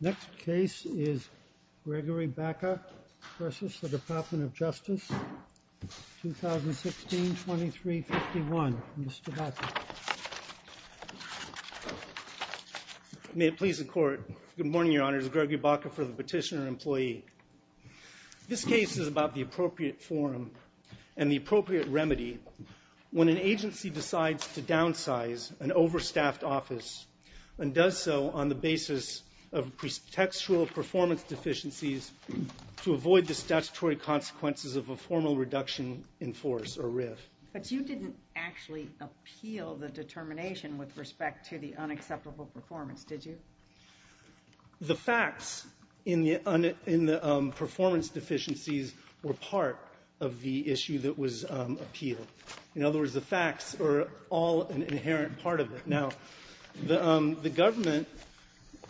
Next case is Gregory Baka v. DOJ, 2016, 2351. Mr. Baka. May it please the Court. Good morning, Your Honor. This is Gregory Baka for the Petitioner-Employee. This case is about the appropriate form and the appropriate remedy when an agency decides to downsize an overstaffed office and does so on the basis of textual performance deficiencies to avoid the statutory consequences of a formal reduction in force or RIF. But you didn't actually appeal the determination with respect to the unacceptable performance, did you? The facts in the performance deficiencies were part of the issue that was appealed. In other words, the facts are all an inherent part of it. Now, the government,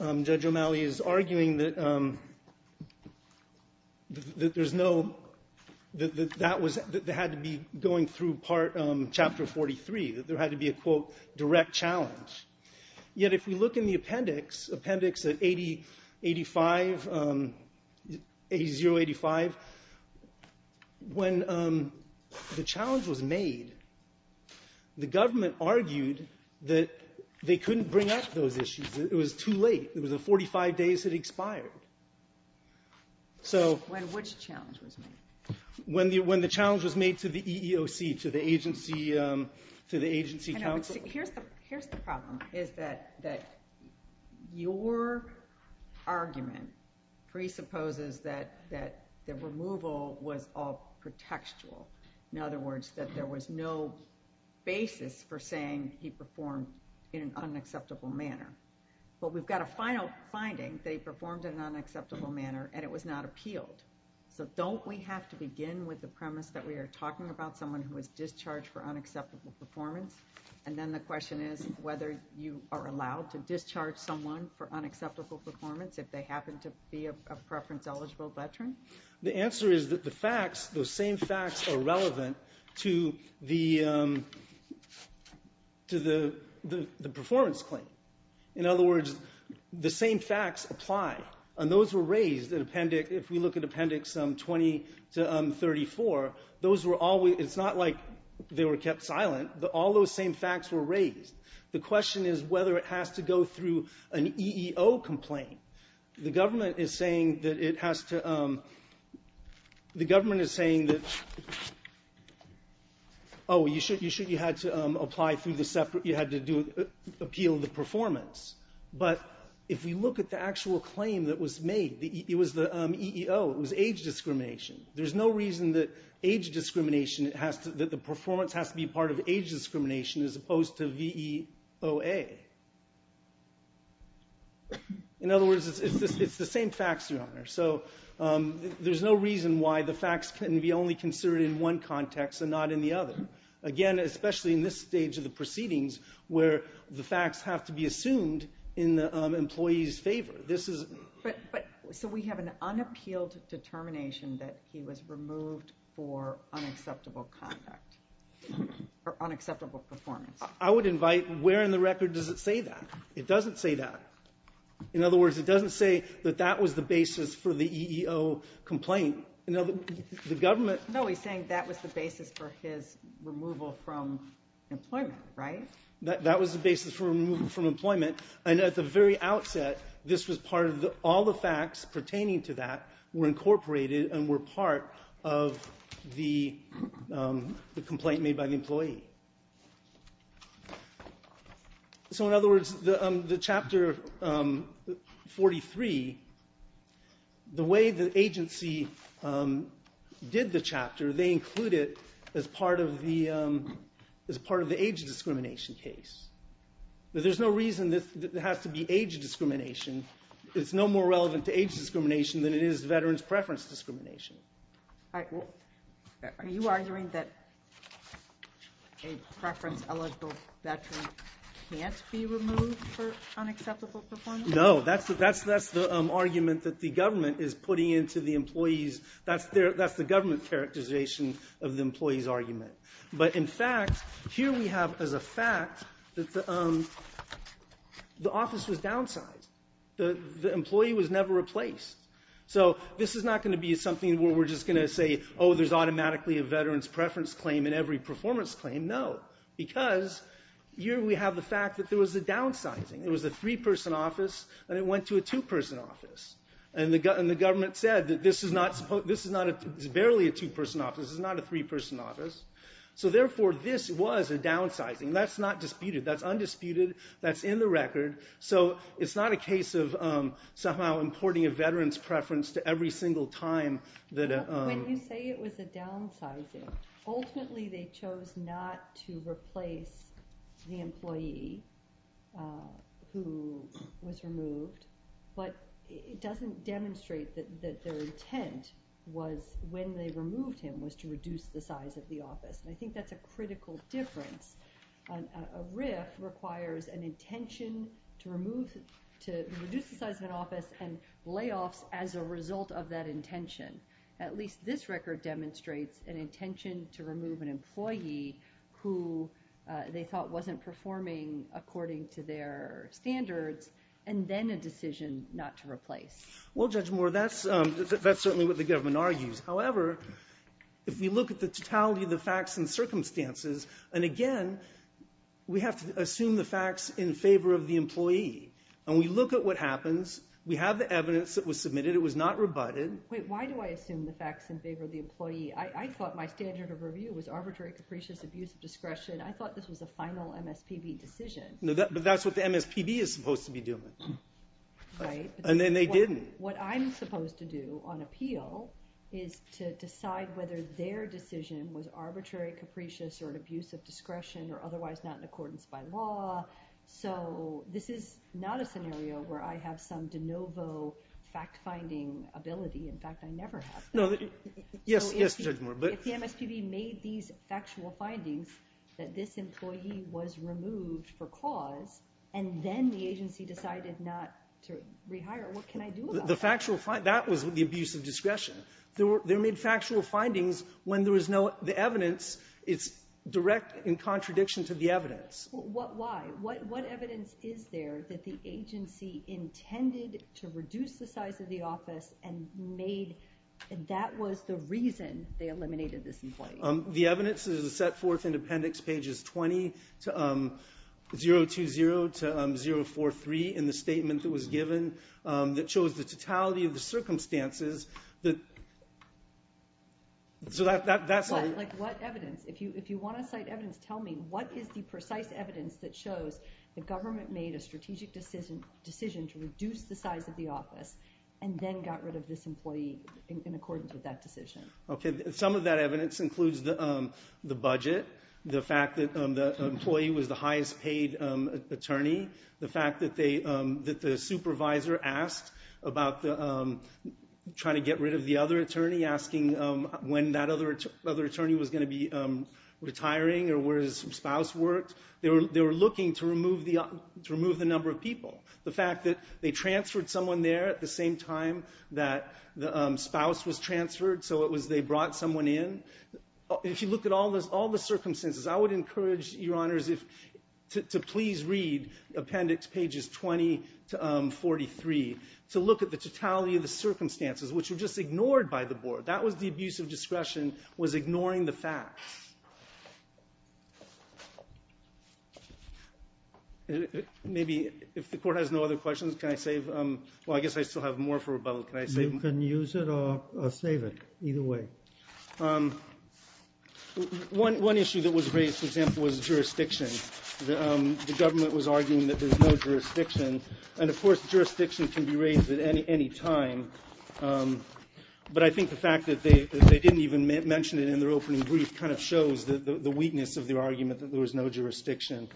Judge O'Malley, is arguing that there's no – that that was – that they had to be going through part – chapter 43, that there had to be a, quote, direct challenge. Yet if we look in the appendix, appendix 8085, A085, when the challenge was made, the government argued that they couldn't bring up those issues. It was too late. It was 45 days had expired. So – When which challenge was made? When the challenge was made to the EEOC, to the agency – to the agency counsel. Here's the problem, is that your argument presupposes that the removal was all pretextual. In other words, that there was no basis for saying he performed in an unacceptable manner. But we've got a final finding. They performed in an unacceptable manner and it was not appealed. So don't we have to begin with the premise that we are talking about someone who was discharged for unacceptable performance and then the question is whether you are allowed to discharge someone for unacceptable performance if they happen to be a preference-eligible veteran? The answer is that the facts – those same facts are relevant to the – to the performance claim. In other words, the same facts apply. And those were raised in appendix – if we look at appendix 20 to 34, those were all – it's not like they were kept silent. All those same facts were raised. The question is whether it has to go through an EEO complaint. The government is saying that it has to – the government is saying that – oh, you should – you should – you had to apply through the separate – you had to do – appeal the performance. But if we look at the actual claim that was made, it was the EEO, it was age discrimination. There's no reason that age discrimination has to – that the performance has to be part of age discrimination as opposed to VEOA. In other words, it's the same facts, Your Honor. So there's no reason why the facts can be only considered in one context and not in the other. Again, especially in this stage of the proceedings where the facts have to be assumed in the employee's favor. So we have an unappealed determination that he was removed for unacceptable conduct or unacceptable performance. I would invite – where in the record does it say that? It doesn't say that. In other words, it doesn't say that that was the basis for the EEO complaint. The government – No, he's saying that was the basis for his removal from employment, right? That was the basis for removal from employment. And at the very outset, this was part of – all the facts pertaining to that were incorporated and were part of the complaint made by the employee. So in other words, the Chapter 43, the way the agency did the chapter, they include it as part of the age discrimination case. There's no reason that it has to be age discrimination. It's no more relevant to age discrimination than it is veterans' preference discrimination. Are you arguing that a preference-eligible veteran can't be removed for unacceptable performance? No. That's the argument that the government is putting into the employee's – that's the government characterization of the employee's argument. But in fact, here we have as a fact that the office was downsized. The employee was never replaced. So this is not going to be something where we're just going to say, oh, there's automatically a veterans' preference claim in every performance claim. No, because here we have the fact that there was a downsizing. It was a three-person office, and it went to a two-person office. And the government said that this is not – this is barely a two-person office. This is not a three-person office. So therefore, this was a downsizing. That's not disputed. That's undisputed. That's in the record. So it's not a case of somehow importing a veterans' preference to every single time that – When you say it was a downsizing, ultimately they chose not to replace the employee who was removed. But it doesn't demonstrate that their intent was – when they removed him was to reduce the size of the office. And I think that's a critical difference. A RIF requires an intention to remove – to reduce the size of an office and layoffs as a result of that intention. At least this record demonstrates an intention to remove an employee who they thought wasn't performing according to their standards and then a decision not to replace. Well, Judge Moore, that's certainly what the government argues. However, if we look at the totality of the facts and circumstances, and again, we have to assume the facts in favor of the employee. And we look at what happens. We have the evidence that was submitted. It was not rebutted. Wait. Why do I assume the facts in favor of the employee? I thought my standard of review was arbitrary, capricious, abuse of discretion. I thought this was a final MSPB decision. But that's what the MSPB is supposed to be doing. Right. And then they didn't. What I'm supposed to do on appeal is to decide whether their decision was arbitrary, capricious, or an abuse of discretion, or otherwise not in accordance by law. So this is not a scenario where I have some de novo fact-finding ability. In fact, I never have. No. Yes, Judge Moore. But the MSPB made these factual findings that this employee was removed for cause, and then the agency decided not to rehire. What can I do about that? The factual finding, that was the abuse of discretion. They made factual findings when there was no evidence. It's direct in contradiction to the evidence. Why? What evidence is there that the agency intended to reduce the size of the office and that was the reason they eliminated this employee? The evidence is set forth in appendix pages 20 to 020 to 043 in the statement that was given that shows the totality of the circumstances. What evidence? If you want to cite evidence, tell me what is the precise evidence that shows the government made a strategic decision to reduce the size of the office and then got rid of this employee in accordance with that decision? Some of that evidence includes the budget, the fact that the employee was the highest paid attorney, the fact that the supervisor asked about trying to get rid of the other attorney, asking when that other attorney was going to be retiring or where his spouse worked. The fact that they transferred someone there at the same time that the spouse was transferred, so it was they brought someone in. If you look at all the circumstances, I would encourage, Your Honors, to please read appendix pages 20 to 043 to look at the totality of the circumstances, which were just ignored by the board. That was the abuse of discretion was ignoring the facts. Maybe if the court has no other questions, can I save? Well, I guess I still have more for rebuttal. Can I save? You can use it or save it either way. One issue that was raised, for example, was jurisdiction. The government was arguing that there's no jurisdiction. And, of course, jurisdiction can be raised at any time. But I think the fact that they didn't even mention it in their opening brief kind of shows the weakness of their argument that there was no jurisdiction.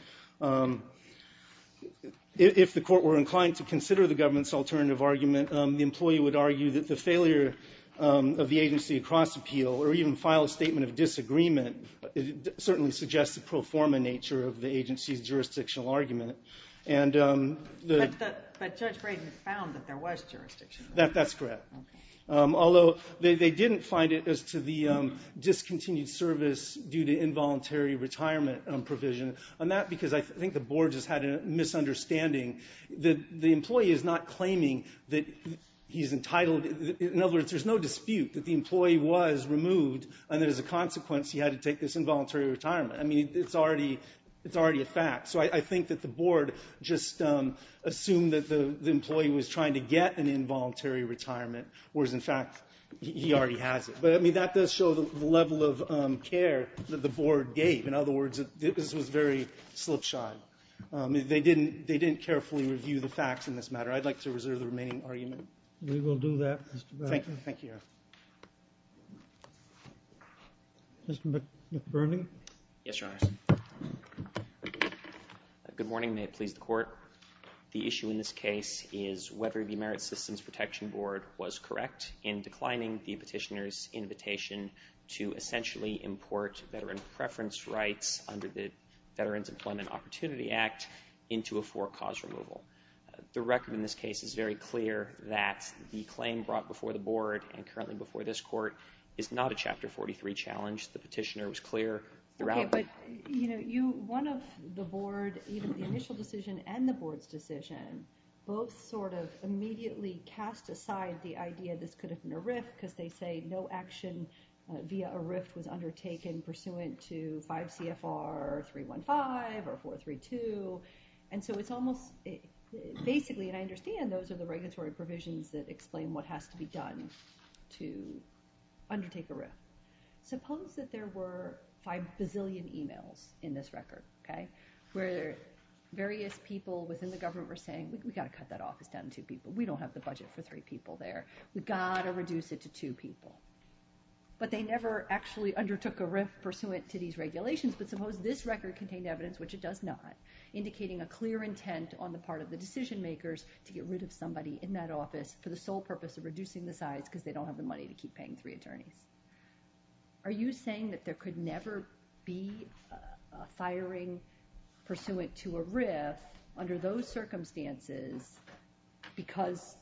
If the court were inclined to consider the government's alternative argument, the employee would argue that the failure of the agency to cross appeal or even file a statement of disagreement certainly suggests the pro forma nature of the agency's jurisdictional argument. But Judge Braden found that there was jurisdiction. That's correct. Although they didn't find it as to the discontinued service due to involuntary retirement provision. And that's because I think the board just had a misunderstanding that the employee is not claiming that he's entitled. In other words, there's no dispute that the employee was removed. And as a consequence, he had to take this involuntary retirement. I mean, it's already a fact. So I think that the board just assumed that the employee was trying to get an involuntary retirement, whereas, in fact, he already has it. But, I mean, that does show the level of care that the board gave. In other words, this was very slip-shy. They didn't carefully review the facts in this matter. I'd like to reserve the remaining argument. We will do that, Mr. Braden. Thank you. Mr. McBurnie? Yes, Your Honor. Good morning. May it please the court. The issue in this case is whether the Merit Systems Protection Board was correct in declining the petitioner's invitation to essentially import veteran preference rights under the Veterans Employment Opportunity Act into a four-cause removal. The record in this case is very clear that the claim brought before the board and currently before this court is not a Chapter 43 challenge. The petitioner was clear throughout. But, you know, one of the board, even the initial decision and the board's decision, both sort of immediately cast aside the idea this could have been a RIF because they say no action via a RIF was undertaken pursuant to 5 CFR 315 or 432. And so it's almost basically, and I understand those are the regulatory provisions that explain what has to be done to undertake a RIF. Suppose that there were five bazillion emails in this record, okay, where various people within the government were saying, we've got to cut that office down to two people. We don't have the budget for three people there. We've got to reduce it to two people. But they never actually undertook a RIF pursuant to these regulations. But suppose this record contained evidence, which it does not, indicating a clear intent on the part of the decision makers to get rid of somebody in that office for the sole purpose of reducing the size because they don't have the money to keep paying three attorneys. Are you saying that there could never be a firing pursuant to a RIF under those circumstances because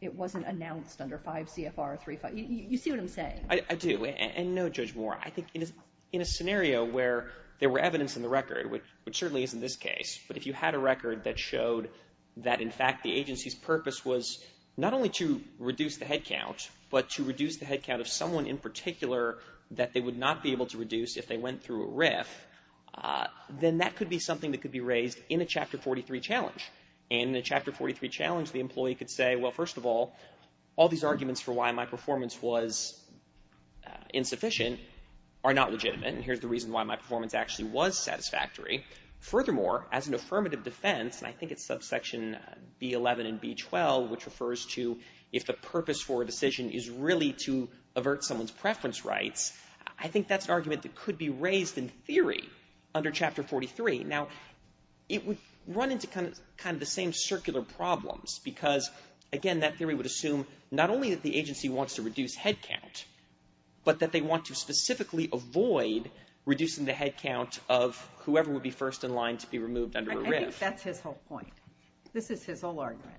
it wasn't announced under 5 CFR 315? You see what I'm saying? I do, and no, Judge Moore. I think in a scenario where there were evidence in the record, which certainly isn't this case, but if you had a record that showed that, in fact, the agency's purpose was not only to reduce the headcount, but to reduce the headcount of someone in particular that they would not be able to reduce if they went through a RIF, then that could be something that could be raised in a Chapter 43 challenge. In a Chapter 43 challenge, the employee could say, well, first of all, all these arguments for why my performance was insufficient are not legitimate, and here's the reason why my performance actually was satisfactory. Furthermore, as an affirmative defense, and I think it's subsection B11 and B12, which refers to if the purpose for a decision is really to avert someone's preference rights, I think that's an argument that could be raised in theory under Chapter 43. Now, it would run into kind of the same circular problems because, again, that theory would assume not only that the agency wants to reduce headcount, but that they want to specifically avoid reducing the headcount of whoever would be first in line to be removed under a RIF. I think that's his whole point. This is his whole argument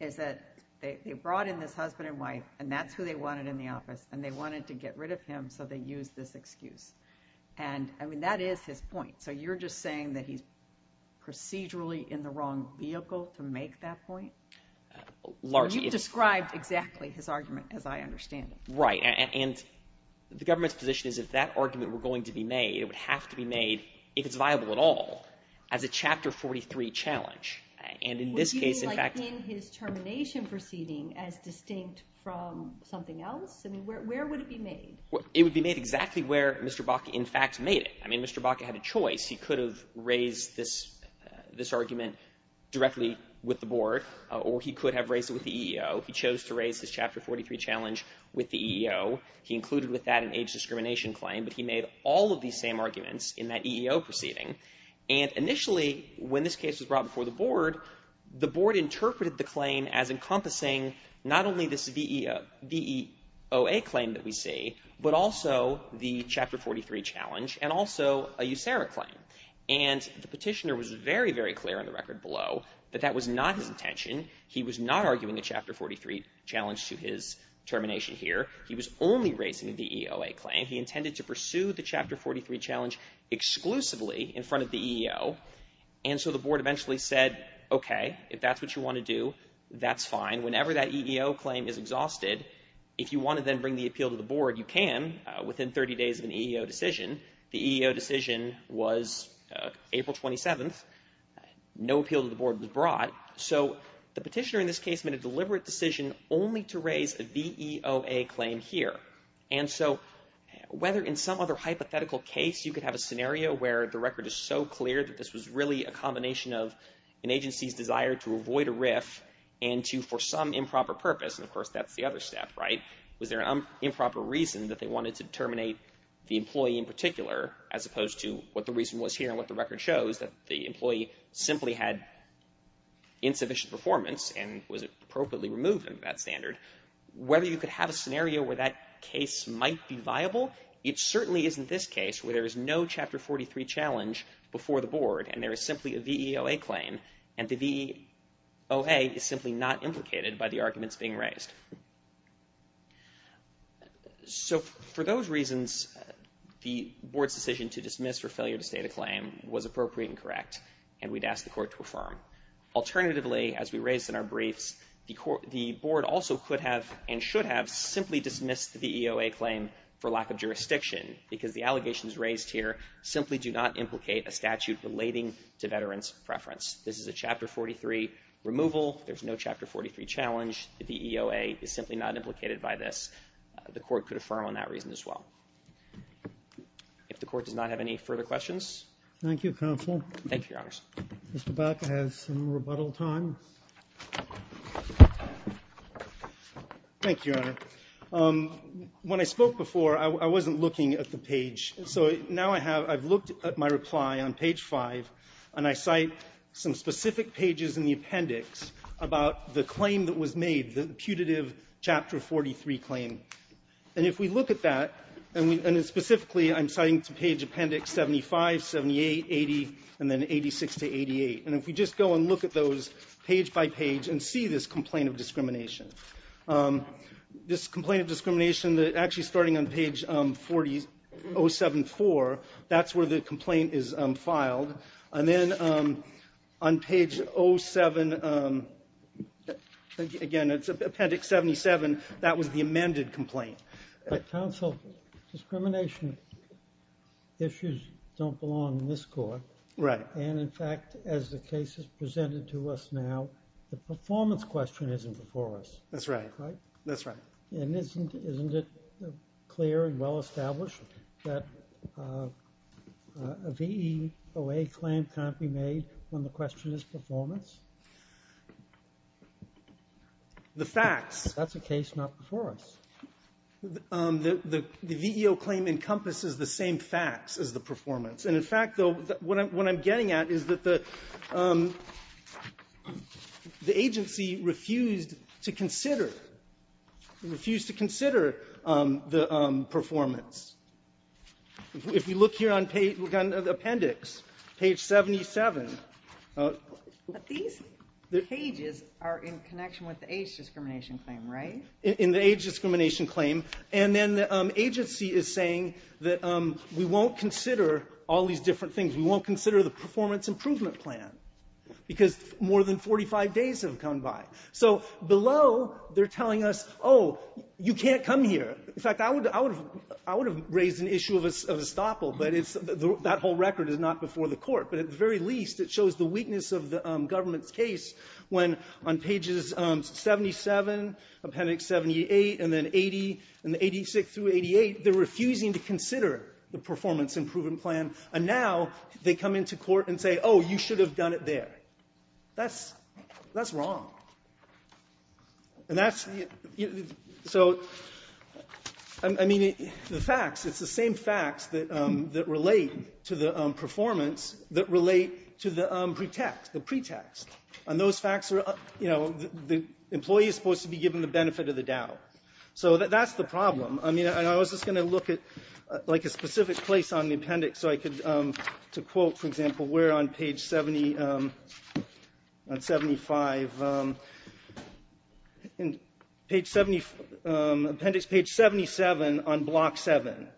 is that they brought in this husband and wife, and that's who they wanted in the office, and they wanted to get rid of him, so they used this excuse. And, I mean, that is his point. So you're just saying that he's procedurally in the wrong vehicle to make that point? Largely. You've described exactly his argument as I understand it. Right, and the government's position is if that argument were going to be made, it would have to be made, if it's viable at all, as a Chapter 43 challenge. Would you mean like in his termination proceeding as distinct from something else? I mean, where would it be made? It would be made exactly where Mr. Bakke in fact made it. I mean, Mr. Bakke had a choice. He could have raised this argument directly with the board, or he could have raised it with the EEO. He chose to raise his Chapter 43 challenge with the EEO. He included with that an age discrimination claim, but he made all of these same arguments in that EEO proceeding. And initially, when this case was brought before the board, the board interpreted the claim as encompassing not only this VEOA claim that we see, but also the Chapter 43 challenge and also a USERRA claim. And the petitioner was very, very clear on the record below that that was not his intention. He was not arguing a Chapter 43 challenge to his termination here. He was only raising a VEOA claim. And he intended to pursue the Chapter 43 challenge exclusively in front of the EEO. And so the board eventually said, okay, if that's what you want to do, that's fine. Whenever that EEO claim is exhausted, if you want to then bring the appeal to the board, you can within 30 days of an EEO decision. The EEO decision was April 27th. No appeal to the board was brought. So the petitioner in this case made a deliberate decision only to raise a VEOA claim here. And so whether in some other hypothetical case you could have a scenario where the record is so clear that this was really a combination of an agency's desire to avoid a RIF and to for some improper purpose, and of course that's the other step, right, was there an improper reason that they wanted to terminate the employee in particular as opposed to what the reason was here and what the record shows, that the employee simply had insufficient performance and was appropriately removed under that standard. Whether you could have a scenario where that case might be viable, it certainly isn't this case where there is no Chapter 43 challenge before the board and there is simply a VEOA claim, and the VEOA is simply not implicated by the arguments being raised. So for those reasons, the board's decision to dismiss for failure to state a claim was appropriate and correct, and we'd ask the court to affirm. Alternatively, as we raised in our briefs, the board also could have and should have simply dismissed the VEOA claim for lack of jurisdiction because the allegations raised here simply do not implicate a statute relating to veterans' preference. This is a Chapter 43 removal. There's no Chapter 43 challenge. The VEOA is simply not implicated by this. The court could affirm on that reason as well. If the court does not have any further questions. Thank you, Counsel. Thank you, Your Honors. Mr. Baca has some rebuttal time. Thank you, Your Honor. When I spoke before, I wasn't looking at the page. So now I have my reply on page 5, and I cite some specific pages in the appendix about the claim that was made, the putative Chapter 43 claim. And if we look at that, and specifically I'm citing to page appendix 75, 78, 80, and then 86 to 88, and if we just go and look at those page by page and see this complaint of discrimination. This complaint of discrimination, actually starting on page 074, that's where the complaint is filed. And then on page 07, again, it's appendix 77, that was the amended complaint. Counsel, discrimination issues don't belong in this court. Right. And in fact, as the case is presented to us now, the performance question isn't before us. That's right. Right? That's right. And isn't it clear and well established that a VEOA claim can't be made when the question is performance? The facts. That's a case not before us. The VEOA claim encompasses the same facts as the performance. And in fact, though, what I'm getting at is that the agency refused to consider the performance. If you look here on appendix, page 77. But these pages are in connection with the age discrimination claim, right? In the age discrimination claim. And then the agency is saying that we won't consider all these different things. We won't consider the performance improvement plan because more than 45 days have come by. So below, they're telling us, oh, you can't come here. In fact, I would have raised an issue of estoppel, but that whole record is not before the court. But at the very least, it shows the weakness of the government's case when on pages 77, appendix 78, and then 80, and 86 through 88, they're refusing to consider the performance improvement plan. And now they come into court and say, oh, you should have done it there. That's wrong. And that's the so, I mean, the facts, it's the same facts that relate to the performance that relate to the pretext. And those facts are, you know, the employee is supposed to be given the benefit of the doubt. So that's the problem. I mean, and I was just going to look at like a specific place on the appendix so I could, to quote, for example, where on page 70, on 75, in page 70, appendix page 77 on block 7,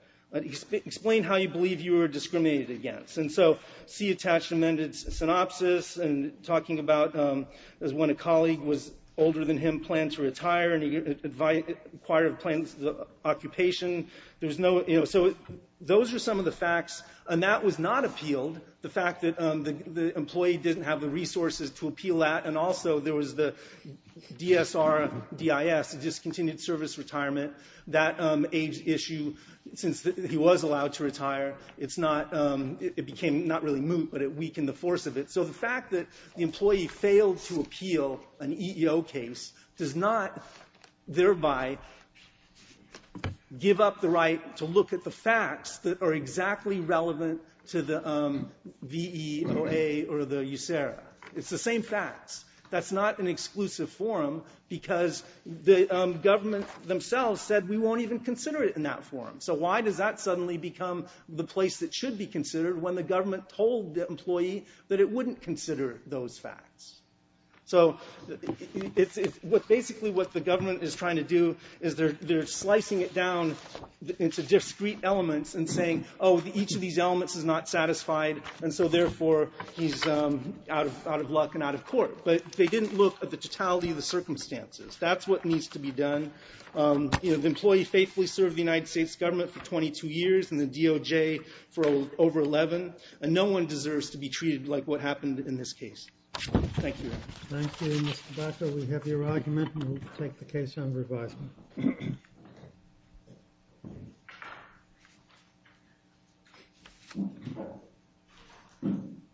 explain how you believe you were discriminated against. And so see attached amended synopsis and talking about when a colleague was older than him, planned to retire, and he acquired plans for occupation. There's no, you know, so those are some of the facts. And that was not appealed, the fact that the employee didn't have the resources to appeal that. And also there was the DSR, DIS, discontinued service retirement, that age issue since he was allowed to retire. It's not, it became not really moot, but it weakened the force of it. So the fact that the employee failed to appeal an EEO case does not thereby give up the right to look at the facts that are exactly relevant to the VEOA or the USERRA. It's the same facts. That's not an exclusive forum because the government themselves said we won't even consider it in that forum. So why does that suddenly become the place that should be considered when the government told the employee that it wouldn't consider those facts? So it's basically what the government is trying to do is they're slicing it down into discrete elements and saying, oh, each of these elements is not satisfied, and so therefore he's out of luck and out of court. But they didn't look at the totality of the circumstances. That's what needs to be done. The employee faithfully served the United States government for 22 years and the DOJ for over 11, and no one deserves to be treated like what happened in this case. Thank you. Thank you, Mr. Baca. We have your argument, and we'll take the case under advisement.